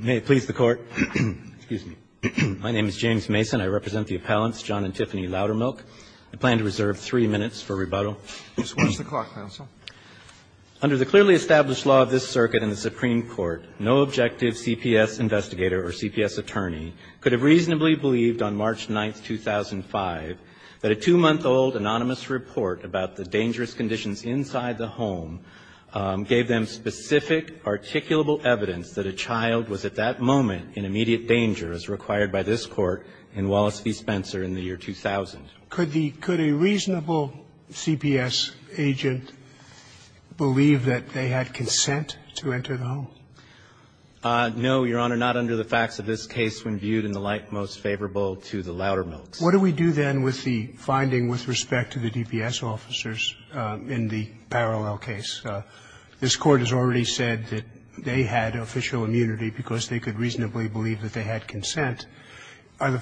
May it please the Court, excuse me. My name is James Mason. I represent the appellants John and Tiffany Loudermilk. I plan to reserve three minutes for rebuttal. Just watch the clock, counsel. Under the clearly established law of this circuit in the Supreme Court, no objective CPS investigator or CPS attorney could have reasonably believed on March 9, 2005, that a two-month-old anonymous report about the dangerous conditions inside the home gave them specific, articulable evidence that a child was at that moment in immediate danger as required by this Court in Wallace v. Spencer in the year 2000. Could the – could a reasonable CPS agent believe that they had consent to enter the home? No, Your Honor. Not under the facts of this case when viewed in the light most favorable to the Loudermilks. What do we do then with the finding with respect to the DPS officers in the parallel case? This Court has already said that they had official immunity because they could reasonably believe that they had consent. Are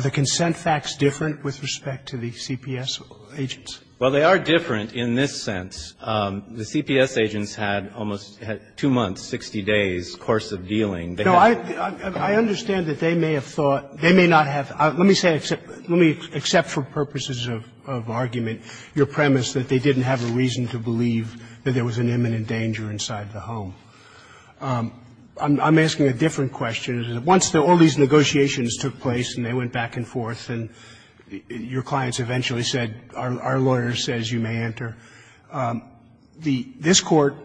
the consent facts different with respect to the CPS agents? Well, they are different in this sense. The CPS agents had almost two months, 60 days' course of dealing. No, I understand that they may have thought – they may not have – let me say, except for purposes of argument, your premise that they didn't have a reason to believe that there was an imminent danger inside the home. I'm asking a different question. Once all these negotiations took place and they went back and forth and your clients eventually said, our lawyer says you may enter, the – this Court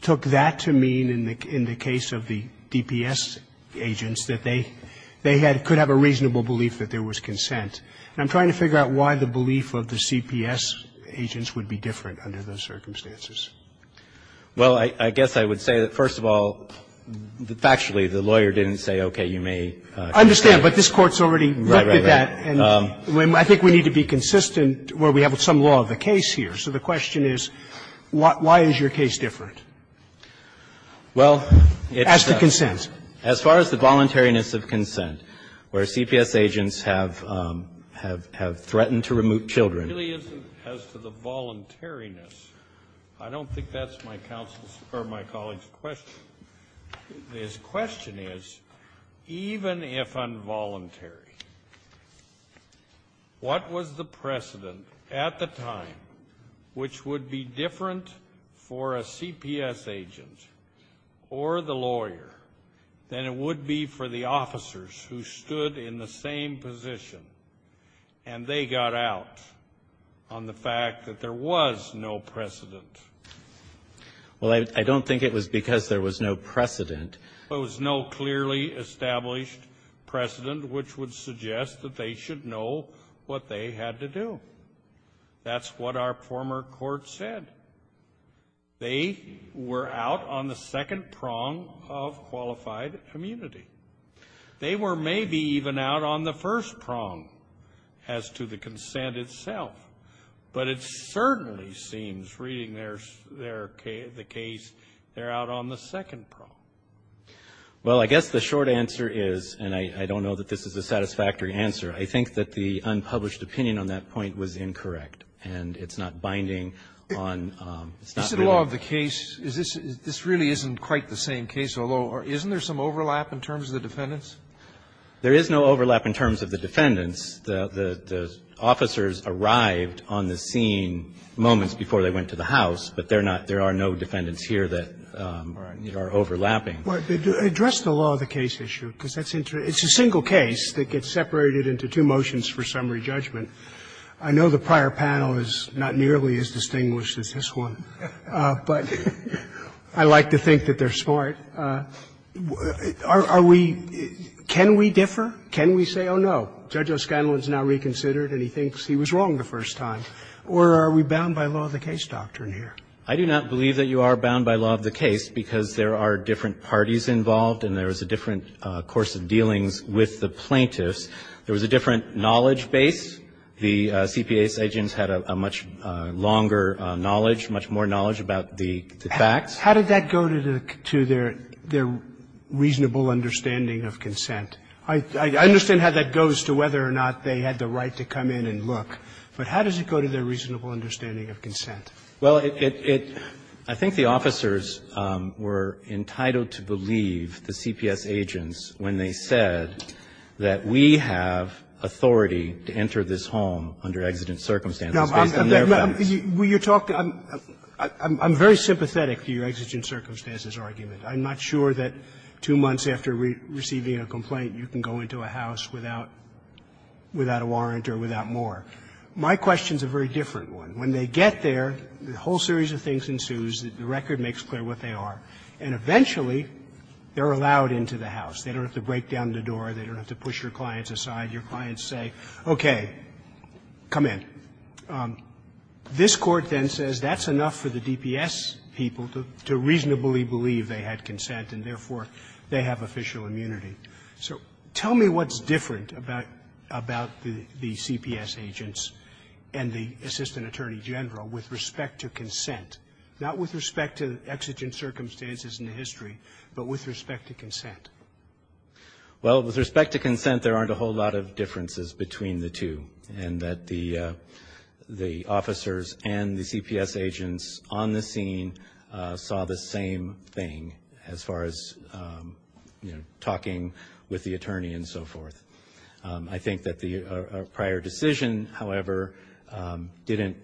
took that to mean in the case of the DPS agents that they – they had – could have a reasonable belief that there was consent. And I'm trying to figure out why the belief of the CPS agents would be different under those circumstances. Well, I guess I would say that, first of all, factually, the lawyer didn't say, okay, you may enter. I understand, but this Court's already looked at that. Right, right, right. And I think we need to be consistent where we have some law of the case here. So the question is, why is your case different? Well, it's a – As for consent. As far as the voluntariness of consent, where CPS agents have – have – have threatened to remove children. It really isn't as to the voluntariness. I don't think that's my counsel's – or my colleague's question. His question is, even if involuntary, what was the precedent at the time which would be different for a CPS agent or the lawyer than it would be for the officers who stood in the same position, and they got out on the fact that there was no precedent? Well, I – I don't think it was because there was no precedent. There was no clearly established precedent which would suggest that they should know what they had to do. That's what our former court said. They were out on the second prong of qualified immunity. They were maybe even out on the first prong as to the consent itself. But it certainly seems, reading their – their case, they're out on the second prong. Well, I guess the short answer is, and I – I don't know that this is a satisfactory answer. I think that the unpublished opinion on that point was incorrect, and it's not binding on – it's not binding on the case. Is it a law of the case? Is this – this really isn't quite the same case, although – isn't there some overlap in terms of the defendants? There is no overlap in terms of the defendants. The – the officers arrived on the scene moments before they went to the house, but they're not – there are no defendants here that are overlapping. Well, address the law of the case issue, because that's interesting. It's a single case that gets separated into two motions for summary judgment. I know the prior panel is not nearly as distinguished as this one, but I like to think that they're smart. Are we – can we differ? Can we say, oh, no, Judge O'Scanlon's now reconsidered and he thinks he was wrong the first time? Or are we bound by law of the case doctrine here? I do not believe that you are bound by law of the case, because there are different parties involved and there is a different course of dealings with the plaintiffs. There was a different knowledge base. The CPA's agents had a much longer knowledge, much more knowledge about the facts. How did that go to their – their reasonable understanding of consent? I understand how that goes to whether or not they had the right to come in and look, Well, it – it – I think the officers were entitled to believe the CPS agents when they said that we have authority to enter this home under exigent circumstances based on their facts. Will you talk – I'm very sympathetic to your exigent circumstances argument. I'm not sure that two months after receiving a complaint you can go into a house without – without a warrant or without more. My question is a very different one. When they get there, a whole series of things ensues. The record makes clear what they are. And eventually, they're allowed into the house. They don't have to break down the door. They don't have to push your clients aside. Your clients say, okay, come in. This Court then says that's enough for the DPS people to reasonably believe they had consent and, therefore, they have official immunity. So tell me what's different about – about the CPS agents and the Assistant Attorney General with respect to consent, not with respect to exigent circumstances in the history, but with respect to consent. Well, with respect to consent, there aren't a whole lot of differences between the two and that the – the officers and the CPS agents on the scene saw the same thing as far as, you know, talking with the attorney and so forth. I think that the prior decision, however, didn't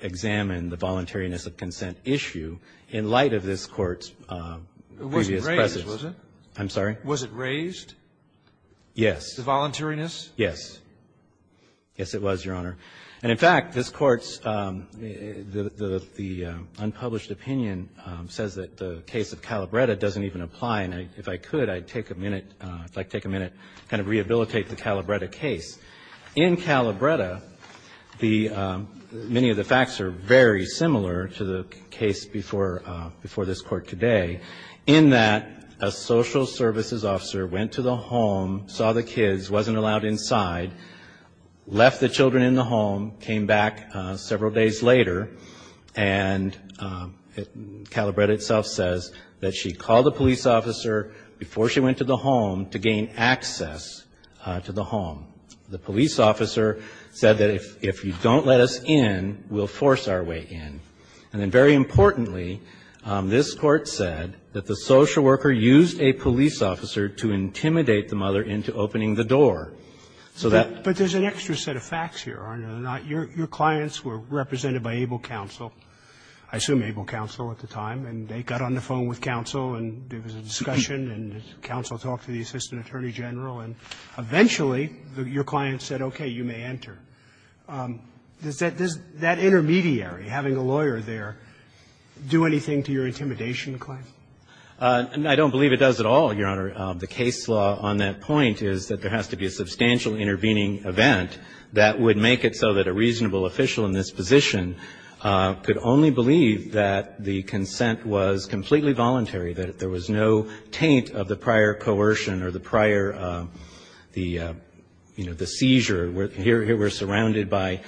examine the voluntariness of consent issue in light of this Court's previous presence. It wasn't raised, was it? I'm sorry? Was it raised? Yes. The voluntariness? Yes. Yes, it was, Your Honor. And, in fact, this Court's – the unpublished opinion says that the case of Calabretta doesn't even apply. And if I could, I'd take a minute – if I could take a minute to kind of rehabilitate the Calabretta case. In Calabretta, the – many of the facts are very similar to the case before – before this Court today in that a social services officer went to the home, saw the kids, wasn't allowed inside, left the children in the home, came back several days later, and Calabretta itself says that she called the police officer before she went to the home to gain access to the home. The police officer said that if you don't let us in, we'll force our way in. And then, very importantly, this Court said that the social worker used a police officer to intimidate the mother into opening the door, so that – But there's an extra set of facts here, aren't there, that your clients were represented by ABLE counsel – I assume ABLE counsel at the time – and they got on the phone with counsel, and there was a discussion, and counsel talked to the assistant attorney general, and eventually, your client said, okay, you may enter. Does that – does that intermediary, having a lawyer there, do anything to your intimidation claim? I don't believe it does at all, Your Honor. The case law on that point is that there has to be a substantial intervening event that would make it so that a reasonable official in this position could only believe that the consent was completely voluntary, that there was no taint of the prior coercion or the prior – the, you know, the seizure. Here we're surrounded by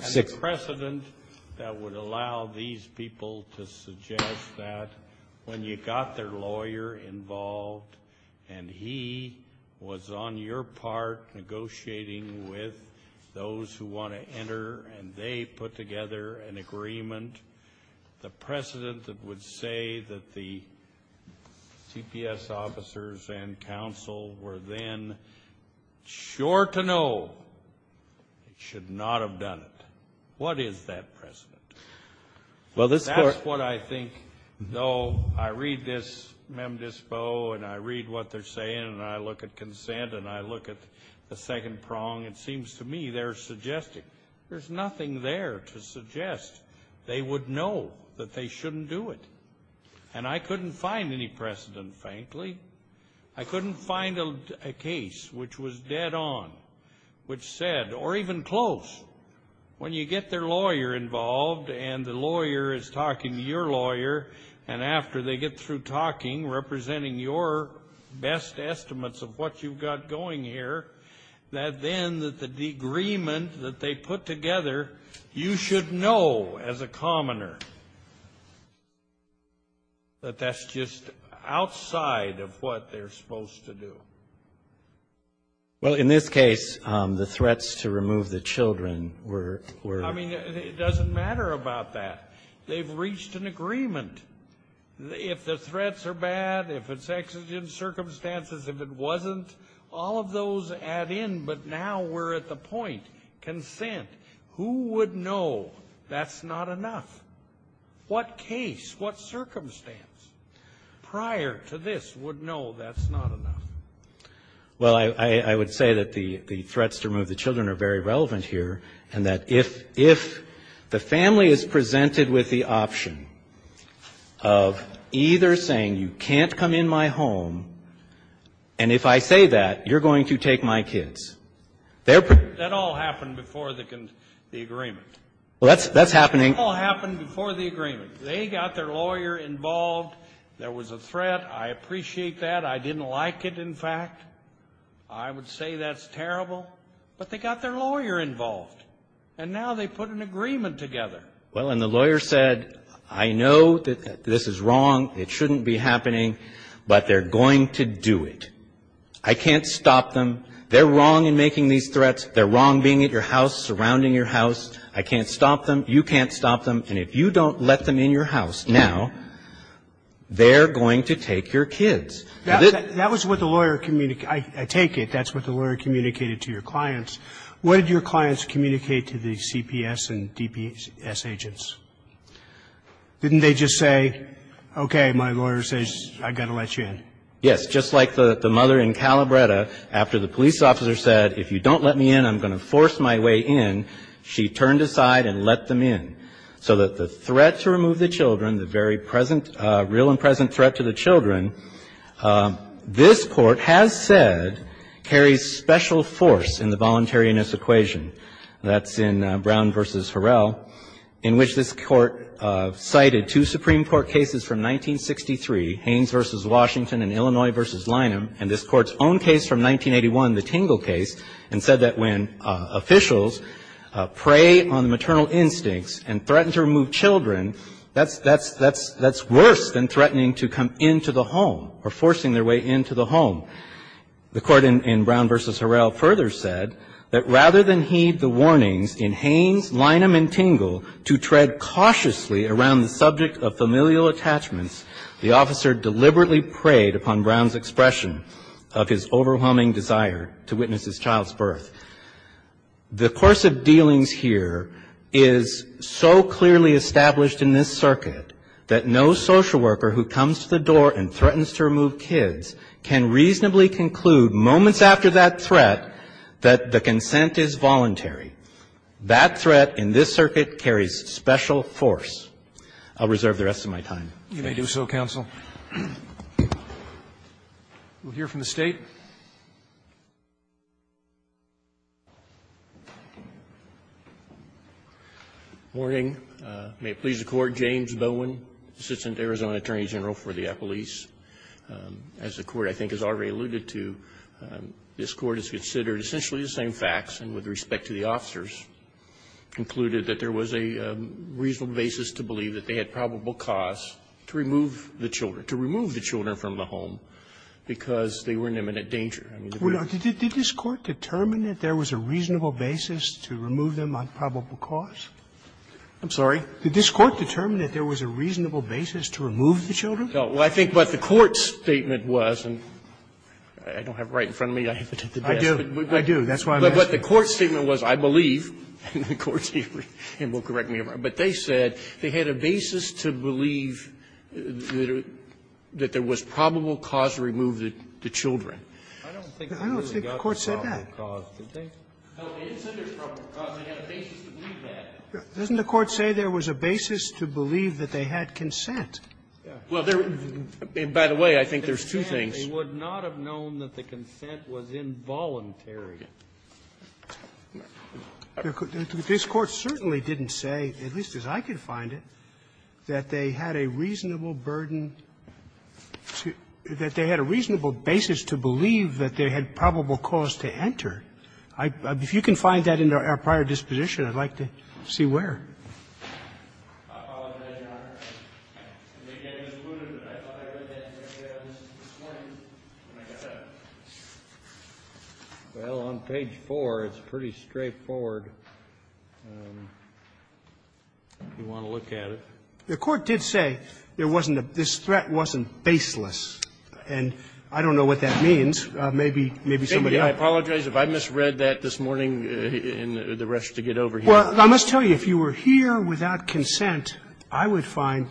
six – The precedent that would allow these people to suggest that when you got their lawyer involved, and he was on your part negotiating with those who want to enter, and they put together an agreement, the precedent that would say that the CPS officers and counsel were then sure to know should not have done it. What is that precedent? Well, this Court – That's what I think, though I read this mem dispo, and I read what they're saying, and I look at consent, and I look at the second prong. It seems to me they're suggesting. There's nothing there to suggest. They would know that they shouldn't do it. And I couldn't find any precedent, frankly. I couldn't find a case which was dead on, which said, or even close, when you have you get their lawyer involved, and the lawyer is talking to your lawyer, and after they get through talking, representing your best estimates of what you've got going here, that then the agreement that they put together, you should know as a commoner that that's just outside of what they're supposed to do. Well, in this case, the threats to remove the children were – I mean, it doesn't matter about that. They've reached an agreement. If the threats are bad, if it's exigent circumstances, if it wasn't, all of those add in, but now we're at the point, consent. Who would know that's not enough? What case, what circumstance prior to this would know that's not enough? Well, I would say that the threats to remove the children are very relevant here, and that if the family is presented with the option of either saying, you can't come in my home, and if I say that, you're going to take my kids, they're – That all happened before the agreement. Well, that's happening – That all happened before the agreement. They got their lawyer involved. There was a threat. I appreciate that. I didn't like it, in fact. I would say that's terrible, but they got their lawyer involved, and now they put an agreement together. Well, and the lawyer said, I know that this is wrong. It shouldn't be happening, but they're going to do it. I can't stop them. They're wrong in making these threats. They're wrong being at your house, surrounding your house. I can't stop them. You can't stop them, and if you don't let them in your house now, they're going to take your kids. That was what the lawyer – I take it that's what the lawyer communicated to your clients. What did your clients communicate to the CPS and DPS agents? Didn't they just say, okay, my lawyer says I've got to let you in? Yes. Just like the mother in Calabretta, after the police officer said, if you don't let me in, I'm going to force my way in, she turned aside and let them in, so that the children, the very present – real and present threat to the children, this Court has said carries special force in the voluntariness equation, and that's in Brown v. Horrell, in which this Court cited two Supreme Court cases from 1963, Haynes v. Washington and Illinois v. Lynham, and this Court's own case from 1981, the Tingle case, and said that when officials prey on maternal instincts and threaten to remove children, that's worse than threatening to come into the home, or forcing their way into the home. The Court in Brown v. Horrell further said that rather than heed the warnings in Haynes, Lynham, and Tingle to tread cautiously around the subject of familial attachments, the officer deliberately preyed upon Brown's expression of his overwhelming desire to witness his child's birth. The course of dealings here is so clearly established in this circuit that no social worker who comes to the door and threatens to remove kids can reasonably conclude moments after that threat that the consent is voluntary. That threat in this circuit carries special force. I'll reserve the rest of my time. Roberts. You may do so, counsel. We'll hear from the State. Good morning. May it please the Court. James Bowen, Assistant Arizona Attorney General for the Appalachians. As the Court, I think, has already alluded to, this Court has considered essentially the same facts, and with respect to the officers, concluded that there was a reasonable basis to believe that they had probable cause to remove the children, to remove the children from the home, because they were in imminent danger. I mean, they were in imminent danger. Sotomayor, did this Court determine that there was a reasonable basis to remove them on probable cause? I'm sorry? Did this Court determine that there was a reasonable basis to remove the children? Well, I think what the Court's statement was, and I don't have it right in front of me. I haven't had the best. I do. I do. That's why I'm asking. But what the Court's statement was, I believe, and the Court's statement, and you'll correct me if I'm wrong, but they said they had a basis to believe that there was a probable cause to remove the children. I don't think the court said that. I don't think the court said that. No, it said there's probable cause. They had a basis to believe that. Doesn't the Court say there was a basis to believe that they had consent? Well, there was the basis. By the way, I think there's two things. They would not have known that the consent was involuntary. This Court certainly didn't say, at least as I could find it, that they had a reasonable burden, that they had a reasonable basis to believe that they had probable cause to enter. If you can find that in our prior disposition, I'd like to see where. Well, on page 4, it's pretty straightforward if you want to look at it. The Court did say there wasn't a – this threat wasn't baseless. And I don't know what that means. Maybe somebody else. I apologize if I misread that this morning and the rest to get over here. Well, I must tell you, if you were here without consent, I would find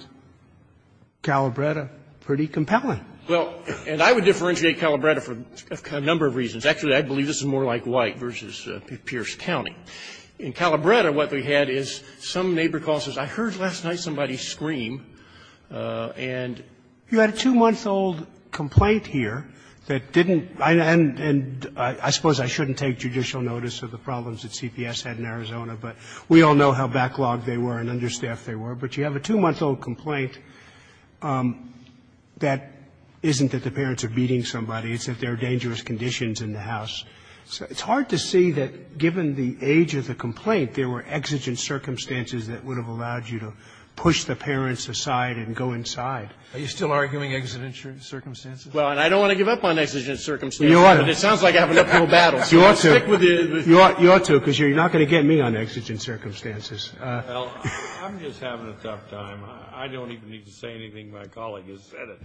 Calabretta pretty compelling. Well, and I would differentiate Calabretta for a number of reasons. Actually, I believe this is more like White v. Pierce County. In Calabretta, what we had is some neighbor calls and says, I heard last night somebody scream, and you had a two-month-old complaint here that didn't – and I suppose I shouldn't take judicial notice of the problems that CPS had in Arizona, but we all know how backlogged they were and understaffed they were. But you have a two-month-old complaint that isn't that the parents are beating somebody, it's that there are dangerous conditions in the house. So it's hard to see that, given the age of the complaint, there were exigent circumstances that would have allowed you to push the parents aside and go inside. Are you still arguing exigent circumstances? Well, and I don't want to give up on exigent circumstances. You ought to. But it sounds like I have an uphill battle, so I'll stick with it. You ought to, because you're not going to get me on exigent circumstances. Well, I'm just having a tough time. I don't even need to say anything. My colleague has said it.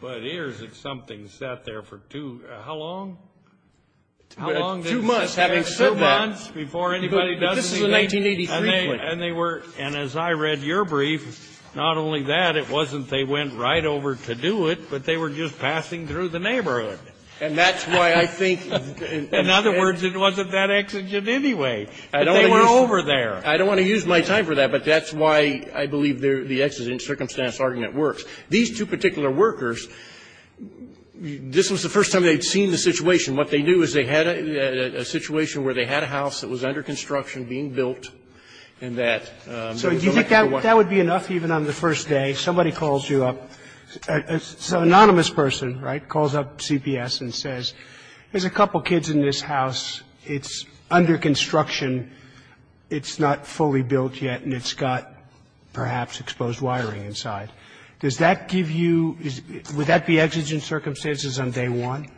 But here's something sat there for two – how long? Two months. Having said that, this is a 1983 complaint. And they were – and as I read your brief, not only that, it wasn't they went right over to do it, but they were just passing through the neighborhood. And that's why I think – In other words, it wasn't that exigent anyway. They were over there. I don't want to use my time for that, but that's why I believe the exigent circumstance argument works. These two particular workers, this was the first time they'd seen the situation. What they knew is they had a situation where they had a house that was under construction, being built, and that – So do you think that would be enough, even on the first day? Somebody calls you up – an anonymous person, right, calls up CPS and says, there's a couple kids in this house, it's under construction, it's not fully built yet, and it's got perhaps exposed wiring inside. Does that give you – would that be exigent circumstances on day one?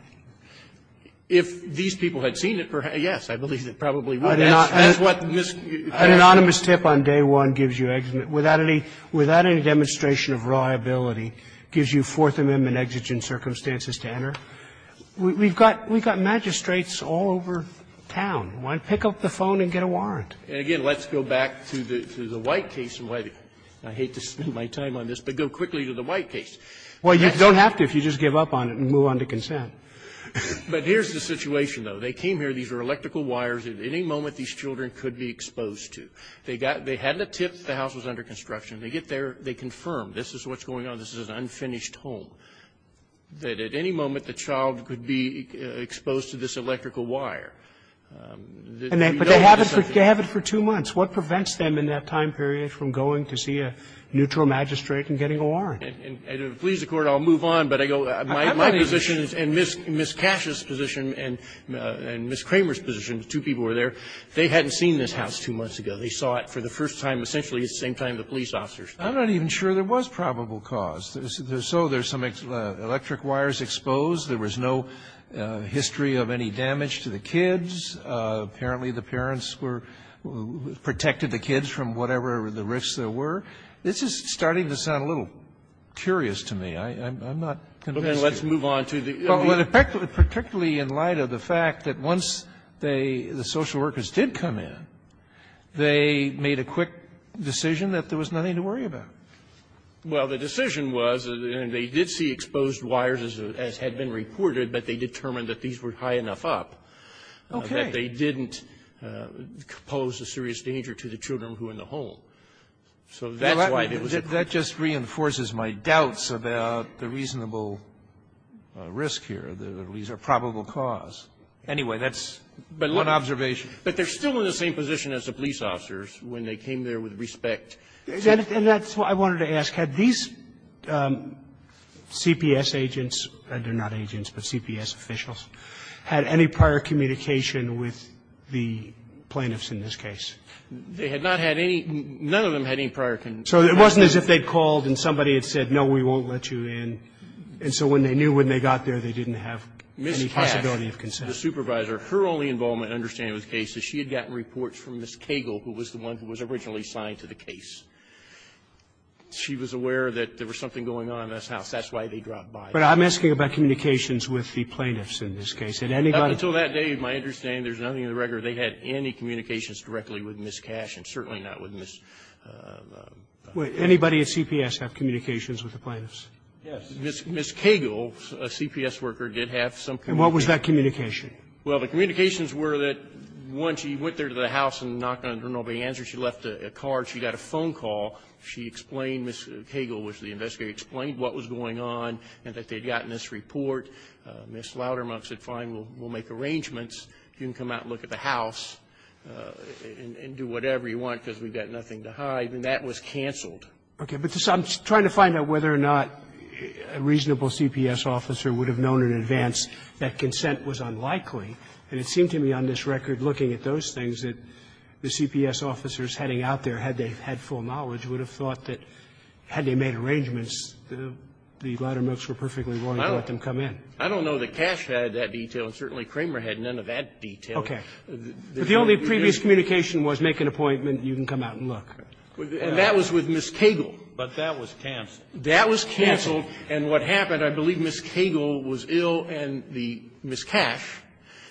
If these people had seen it, yes, I believe it probably would. That's what Ms. An anonymous tip on day one gives you – without any demonstration of liability, gives you Fourth Amendment exigent circumstances to enter. We've got magistrates all over town. Pick up the phone and get a warrant. And again, let's go back to the White case and why I hate to spend my time on this, but go quickly to the White case. Well, you don't have to if you just give up on it and move on to consent. But here's the situation, though. They came here, these were electrical wires, at any moment these children could be exposed to. They got – they had the tip, the house was under construction. They get there, they confirm, this is what's going on, this is an unfinished home, that at any moment the child could be exposed to this electrical wire. But they have it for two months. What prevents them in that time period from going to see a neutral magistrate and getting a warrant? And to please the Court, I'll move on, but I go, my position and Ms. Cash's position and Ms. Kramer's position, the two people who were there, they hadn't seen this house two months ago. They saw it for the first time essentially at the same time the police officers did. I'm not even sure there was probable cause. So there's some electric wires exposed. There was no history of any damage to the kids. Apparently, the parents were – protected the kids from whatever the risks there were. This is starting to sound a little curious to me. I'm not going to ask you. Kennedy, let's move on to the other issues. Well, particularly in light of the fact that once they, the social workers did come in, they made a quick decision that there was nothing to worry about. Well, the decision was, and they did see exposed wires as had been reported, but they determined that these were high enough up. Okay. That they didn't pose a serious danger to the children who were in the home. So that's why it was exposed. That just reinforces my doubts about the reasonable risk here, that these are probable cause. Anyway, that's one observation. But they're still in the same position as the police officers when they came there with respect to the children. And that's what I wanted to ask. Had these CPS agents, and they're not agents, but CPS officials, had any prior communication with the plaintiffs in this case? They had not had any – none of them had any prior – So it wasn't as if they called and somebody had said, no, we won't let you in. And so when they knew when they got there, they didn't have any possibility of consent. Ms. Cash, the supervisor, her only involvement and understanding of this case is she had gotten reports from Ms. Cagle, who was the one who was originally assigned to the case. She was aware that there was something going on in this house. That's why they dropped by. But I'm asking about communications with the plaintiffs in this case. Had anybody – Up until that day, my understanding, there's nothing in the record they had any communications directly with Ms. Cash and certainly not with Ms. – Wait. Anybody at CPS have communications with the plaintiffs? Yes. Ms. Cagle, a CPS worker, did have some communication. And what was that communication? Well, the communications were that once she went there to the house and knocked on the door, nobody answered. She left a card. She got a phone call. She explained Ms. Cagle was the investigator, explained what was going on and that they had gotten this report. Ms. Loudermilk said, fine, we'll make arrangements. You can come out and look at the house and do whatever you want because we've got nothing to hide. And that was canceled. Okay. But I'm trying to find out whether or not a reasonable CPS officer would have known in advance that consent was unlikely. And it seemed to me on this record, looking at those things, that the CPS officers heading out there, had they had full knowledge, would have thought that had they made arrangements, the Loudermilks were perfectly willing to let them come in. I don't know that Cash had that detail, and certainly Kramer had none of that detail. Okay. But the only previous communication was make an appointment, you can come out and look. And that was with Ms. Cagle. But that was canceled. That was canceled. And what happened, I believe Ms. Cagle was ill and the Ms. Cash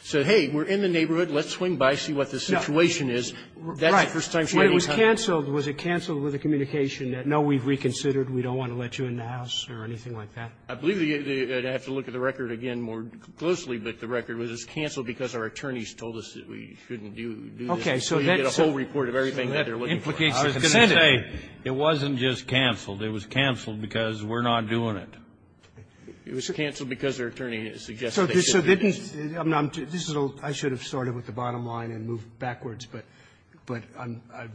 said, hey, we're in the neighborhood, let's swing by, see what the situation is. That's the first time she had any contact. Right. When it was canceled, was it canceled with a communication that, no, we've reconsidered, we don't want to let you in the house or anything like that? I believe you'd have to look at the record again more closely, but the record was it's canceled because our attorneys told us that we shouldn't do this. Okay. So that's so you get a whole report of everything that they're looking for. I was going to say, it wasn't just canceled. It was canceled because we're not doing it. It was canceled because their attorney suggested they should do this. So didn't this is all, I should have started with the bottom line and moved backwards, but I've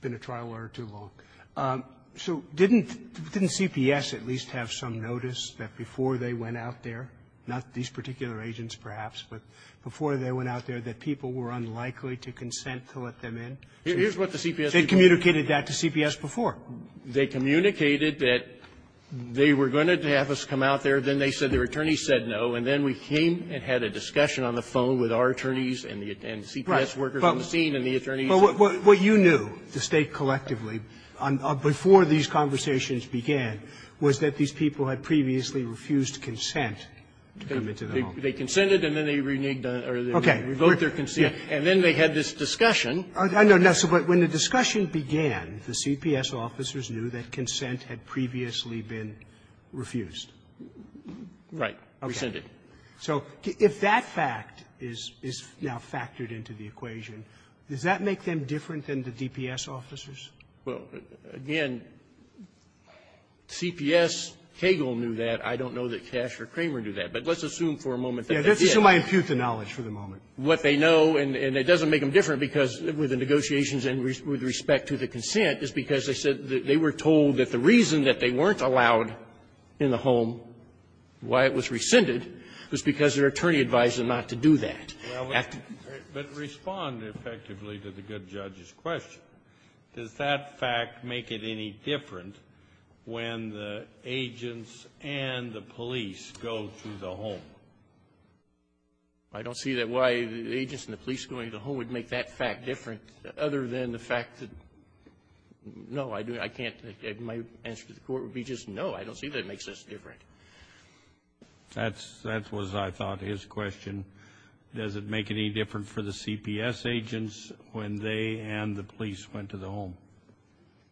been a trial lawyer too long. So didn't CPS at least have some notice that before they went out there, not these particular agents perhaps, but before they went out there that people were unlikely to consent to let them in? Here's what the CPS did. They communicated that to CPS before. They communicated that they were going to have us come out there, then they said their attorney said no, and then we came and had a discussion on the phone with our attorneys and the CPS workers on the scene and the attorneys. But what you knew, to state collectively, before these conversations began was that these people had previously refused consent to come into the home. They consented and then they reneged on it or they revoked their consent. And then they had this discussion. I know. But when the discussion began, the CPS officers knew that consent had previously been refused. Right. Rescinded. So if that fact is now factored into the equation, does that make them different than the DPS officers? Well, again, CPS, Cagle knew that. I don't know that Cash or Kramer knew that. But let's assume for a moment that they did. Let's assume I impute the knowledge for the moment. What they know, and it doesn't make them different because with the negotiations and with respect to the consent, is because they said they were told that the reason that they weren't allowed in the home, why it was rescinded, was because their attorney advised them not to do that. Well, but respond effectively to the good judge's question. Does that fact make it any different when the agents and the police go to the home? I don't see that why the agents and the police going to the home would make that fact different other than the fact that, no, I can't. My answer to the Court would be just no. I don't see that it makes us different. That's what I thought his question. Does it make any different for the CPS agents when they and the police went to the home?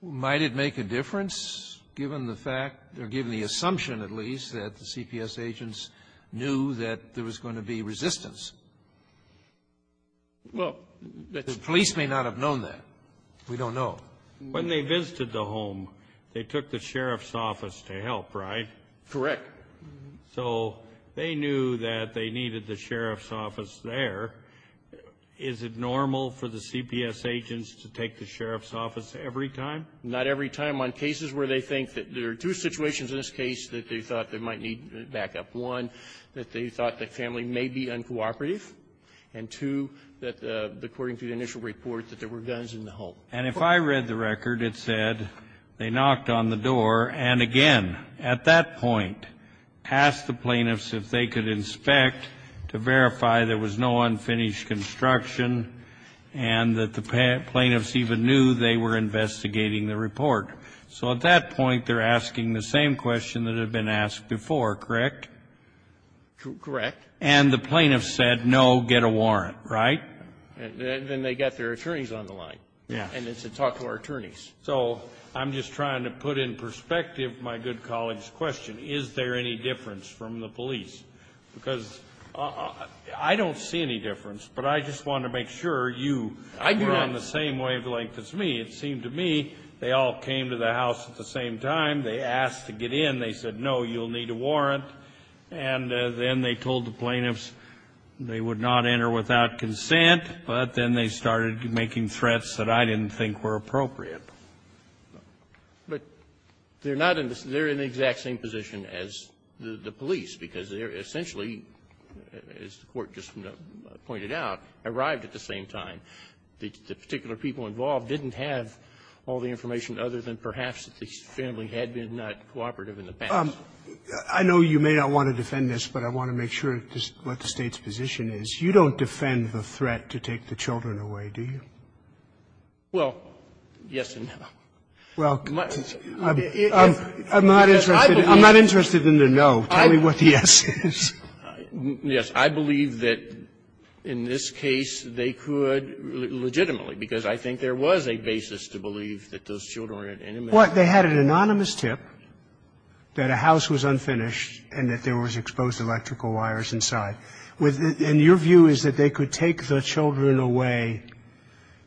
Might it make a difference given the fact or given the assumption, at least, that the CPS agents knew that there was going to be resistance? Well, that's the question. The police may not have known that. We don't know. When they visited the home, they took the sheriff's office to help, right? Correct. So they knew that they needed the sheriff's office there. Is it normal for the CPS agents to take the sheriff's office every time? Not every time. On cases where they think that there are two situations in this case that they thought they might need backup, one, that they thought the family may be uncooperative, and two, that according to the initial report, that there were guns in the home. And if I read the record, it said they knocked on the door and, again, at that point, asked the plaintiffs if they could inspect to verify there was no unfinished construction and that the plaintiffs even knew they were investigating the report. So at that point, they're asking the same question that had been asked before, correct? Correct. And the plaintiffs said, no, get a warrant, right? Then they got their attorneys on the line. And it's a talk to our attorneys. So I'm just trying to put in perspective my good colleague's question. Is there any difference from the police? Because I don't see any difference, but I just want to make sure you were on the same wavelength as me. It seemed to me they all came to the house at the same time. They asked to get in. They said, no, you'll need a warrant. And then they told the plaintiffs they would not enter without consent. But then they started making threats that I didn't think were appropriate. But they're not in the same they're in the exact same position as the police, because they're essentially, as the Court just pointed out, arrived at the same time. The particular people involved didn't have all the information other than perhaps that the family had been not cooperative in the past. I know you may not want to defend this, but I want to make sure what the State's position is. You don't defend the threat to take the children away, do you? Well, yes and no. Well, I'm not interested in the no. Tell me what the yes is. Yes. I believe that in this case they could legitimately, because I think there was a basis to believe that those children were at any minute. Well, they had an anonymous tip that a house was unfinished and that there was exposed electrical wires inside. And your view is that they could take the children away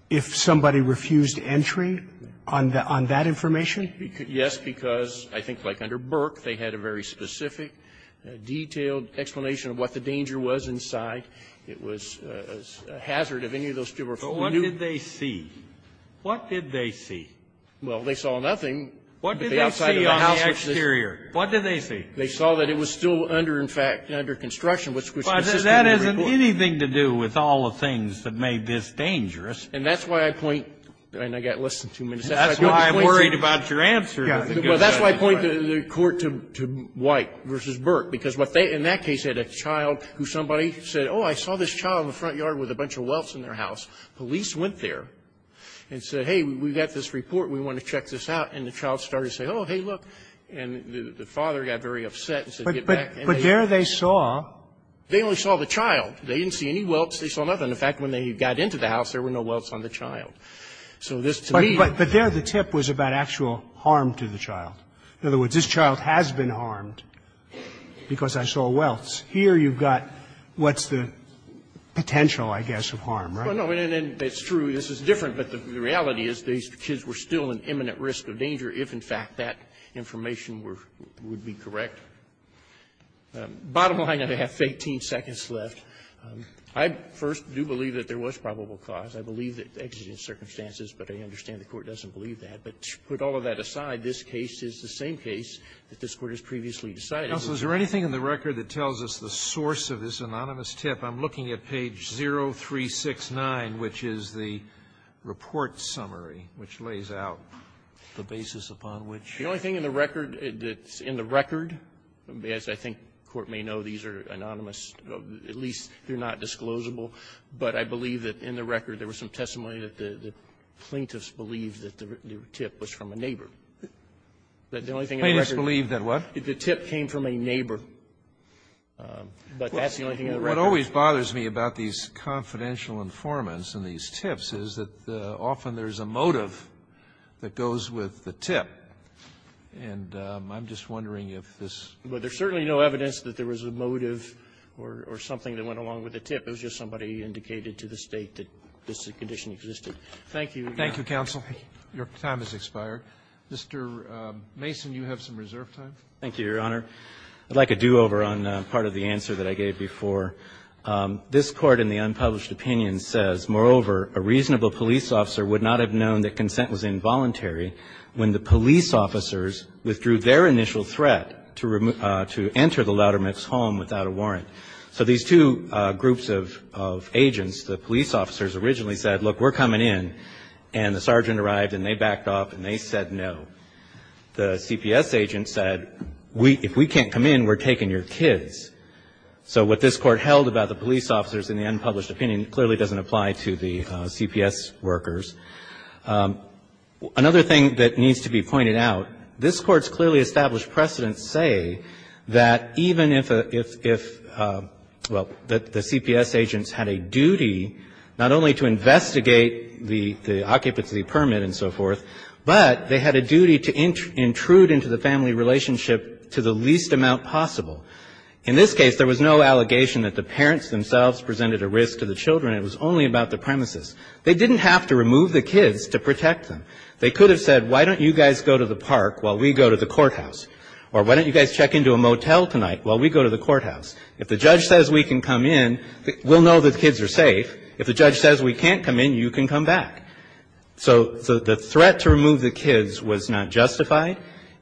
if somebody refused entry on that information? Yes, because I think like under Burke, they had a very specific, detailed explanation of what the danger was inside. It was a hazard if any of those people were familiar. But what did they see? What did they see? Well, they saw nothing. What did they see on the exterior? What did they see? They saw that it was still under, in fact, under construction, which was consistent with the report. Well, that hasn't anything to do with all the things that made this dangerous. And that's why I point, and I've got less than two minutes. That's why I'm worried about your answer. Well, that's why I point the Court to White v. Burke, because what they, in that case, had a child who somebody said, oh, I saw this child in the front yard with a bunch of welts in their house. Police went there and said, hey, we've got this report. We want to check this out. And the child started to say, oh, hey, look. And the father got very upset and said, get back. But there they saw they only saw the child. They didn't see any welts. They saw nothing. In fact, when they got into the house, there were no welts on the child. So this, to me But there the tip was about actual harm to the child. In other words, this child has been harmed because I saw welts. Here you've got what's the potential, I guess, of harm, right? Well, no, and it's true this is different, but the reality is these kids were still an imminent risk of danger if, in fact, that information were be correct. Bottom line, I have 18 seconds left. I first do believe that there was probable cause. I believe that exigent circumstances, but I understand the Court doesn't believe that. But to put all of that aside, this case is the same case that this Court has previously decided. Sotomayor, is there anything in the record that tells us the source of this anonymous tip? I'm looking at page 0369, which is the Report Summary, which lays out the basis upon which. The only thing in the record that's in the record, as I think the Court may know, these are anonymous. At least they're not disclosable. But I believe that in the record, there was some testimony that the plaintiffs believed that the tip was from a neighbor. The only thing in the record the tip came from a neighbor, but that's the only thing in the record. And what always bothers me about these confidential informants and these tips is that often there's a motive that goes with the tip. And I'm just wondering if this was a motive or something that went along with a tip. It was just somebody indicated to the State that this condition existed. Thank you. Thank you, counsel. Your time has expired. Mr. Mason, you have some reserve time. Thank you, Your Honor. I'd like a do-over on part of the answer that I gave before. This Court in the unpublished opinion says, Moreover, a reasonable police officer would not have known that consent was involuntary when the police officers withdrew their initial threat to enter the Loudermax home without a warrant. So these two groups of agents, the police officers, originally said, look, we're coming in. And the sergeant arrived and they backed off and they said no. The CPS agent said, if we can't come in, we're taking your kids. So what this Court held about the police officers in the unpublished opinion clearly doesn't apply to the CPS workers. Another thing that needs to be pointed out, this Court's clearly established precedents say that even if a – if – well, that the CPS agents had a duty not only to investigate the occupancy permit and so forth, but they had a duty to investigate the occupancy permit and so forth, they had a duty to intrude into the family relationship to the least amount possible. In this case, there was no allegation that the parents themselves presented a risk to the children. It was only about the premises. They didn't have to remove the kids to protect them. They could have said, why don't you guys go to the park while we go to the courthouse? Or why don't you guys check into a motel tonight while we go to the courthouse? If the judge says we can come in, we'll know the kids are safe. If the judge says we can't come in, you can come back. So the threat to remove the kids was not justified.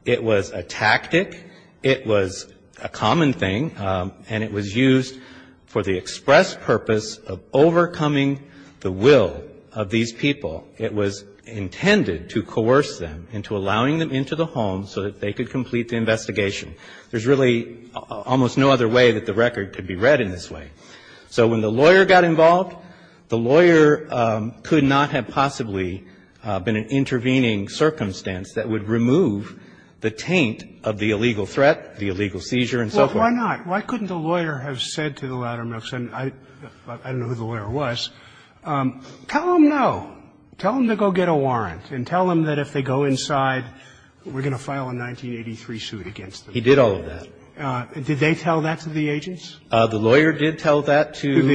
It was a tactic. It was a common thing. And it was used for the express purpose of overcoming the will of these people. It was intended to coerce them into allowing them into the home so that they could complete the investigation. There's really almost no other way that the record could be read in this way. So when the lawyer got involved, the lawyer could not have possibly been an intervening circumstance that would remove the taint of the illegal threat, the illegal seizure, and so forth. Robertson, I don't know who the lawyer was, tell them no. Tell them to go get a warrant and tell them that if they go inside, we're going to file a 1983 suit against them. He did all of that. Did they tell that to the agents? The lawyer did tell that to the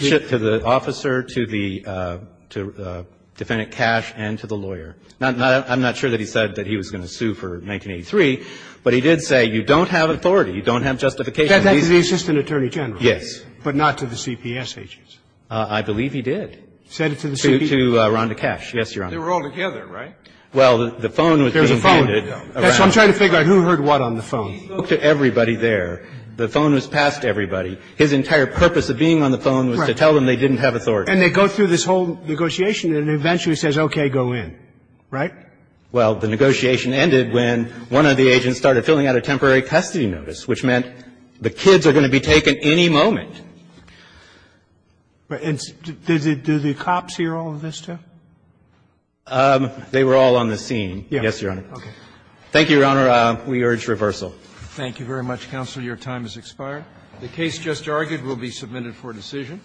agent, to the officer, to the defendant Cash, and to the lawyer. I'm not sure that he said that he was going to sue for 1983, but he did say you don't have authority, you don't have justification. That's to the assistant attorney general. Yes. But not to the CPS agents. I believe he did. Send it to the CPS. To Rhonda Cash. Yes, Your Honor. They were all together, right? Well, the phone was being handed. There was a phone. I'm trying to figure out who heard what on the phone. He looked at everybody there. The phone was passed to everybody. His entire purpose of being on the phone was to tell them they didn't have authority. And they go through this whole negotiation, and it eventually says, okay, go in. Right? Well, the negotiation ended when one of the agents started filling out a temporary custody notice, which meant the kids are going to be taken any moment. And do the cops hear all of this, too? They were all on the scene. Yes, Your Honor. Thank you, Your Honor. We urge reversal. Thank you very much, Counselor. Your time has expired. The case just argued will be submitted for decision.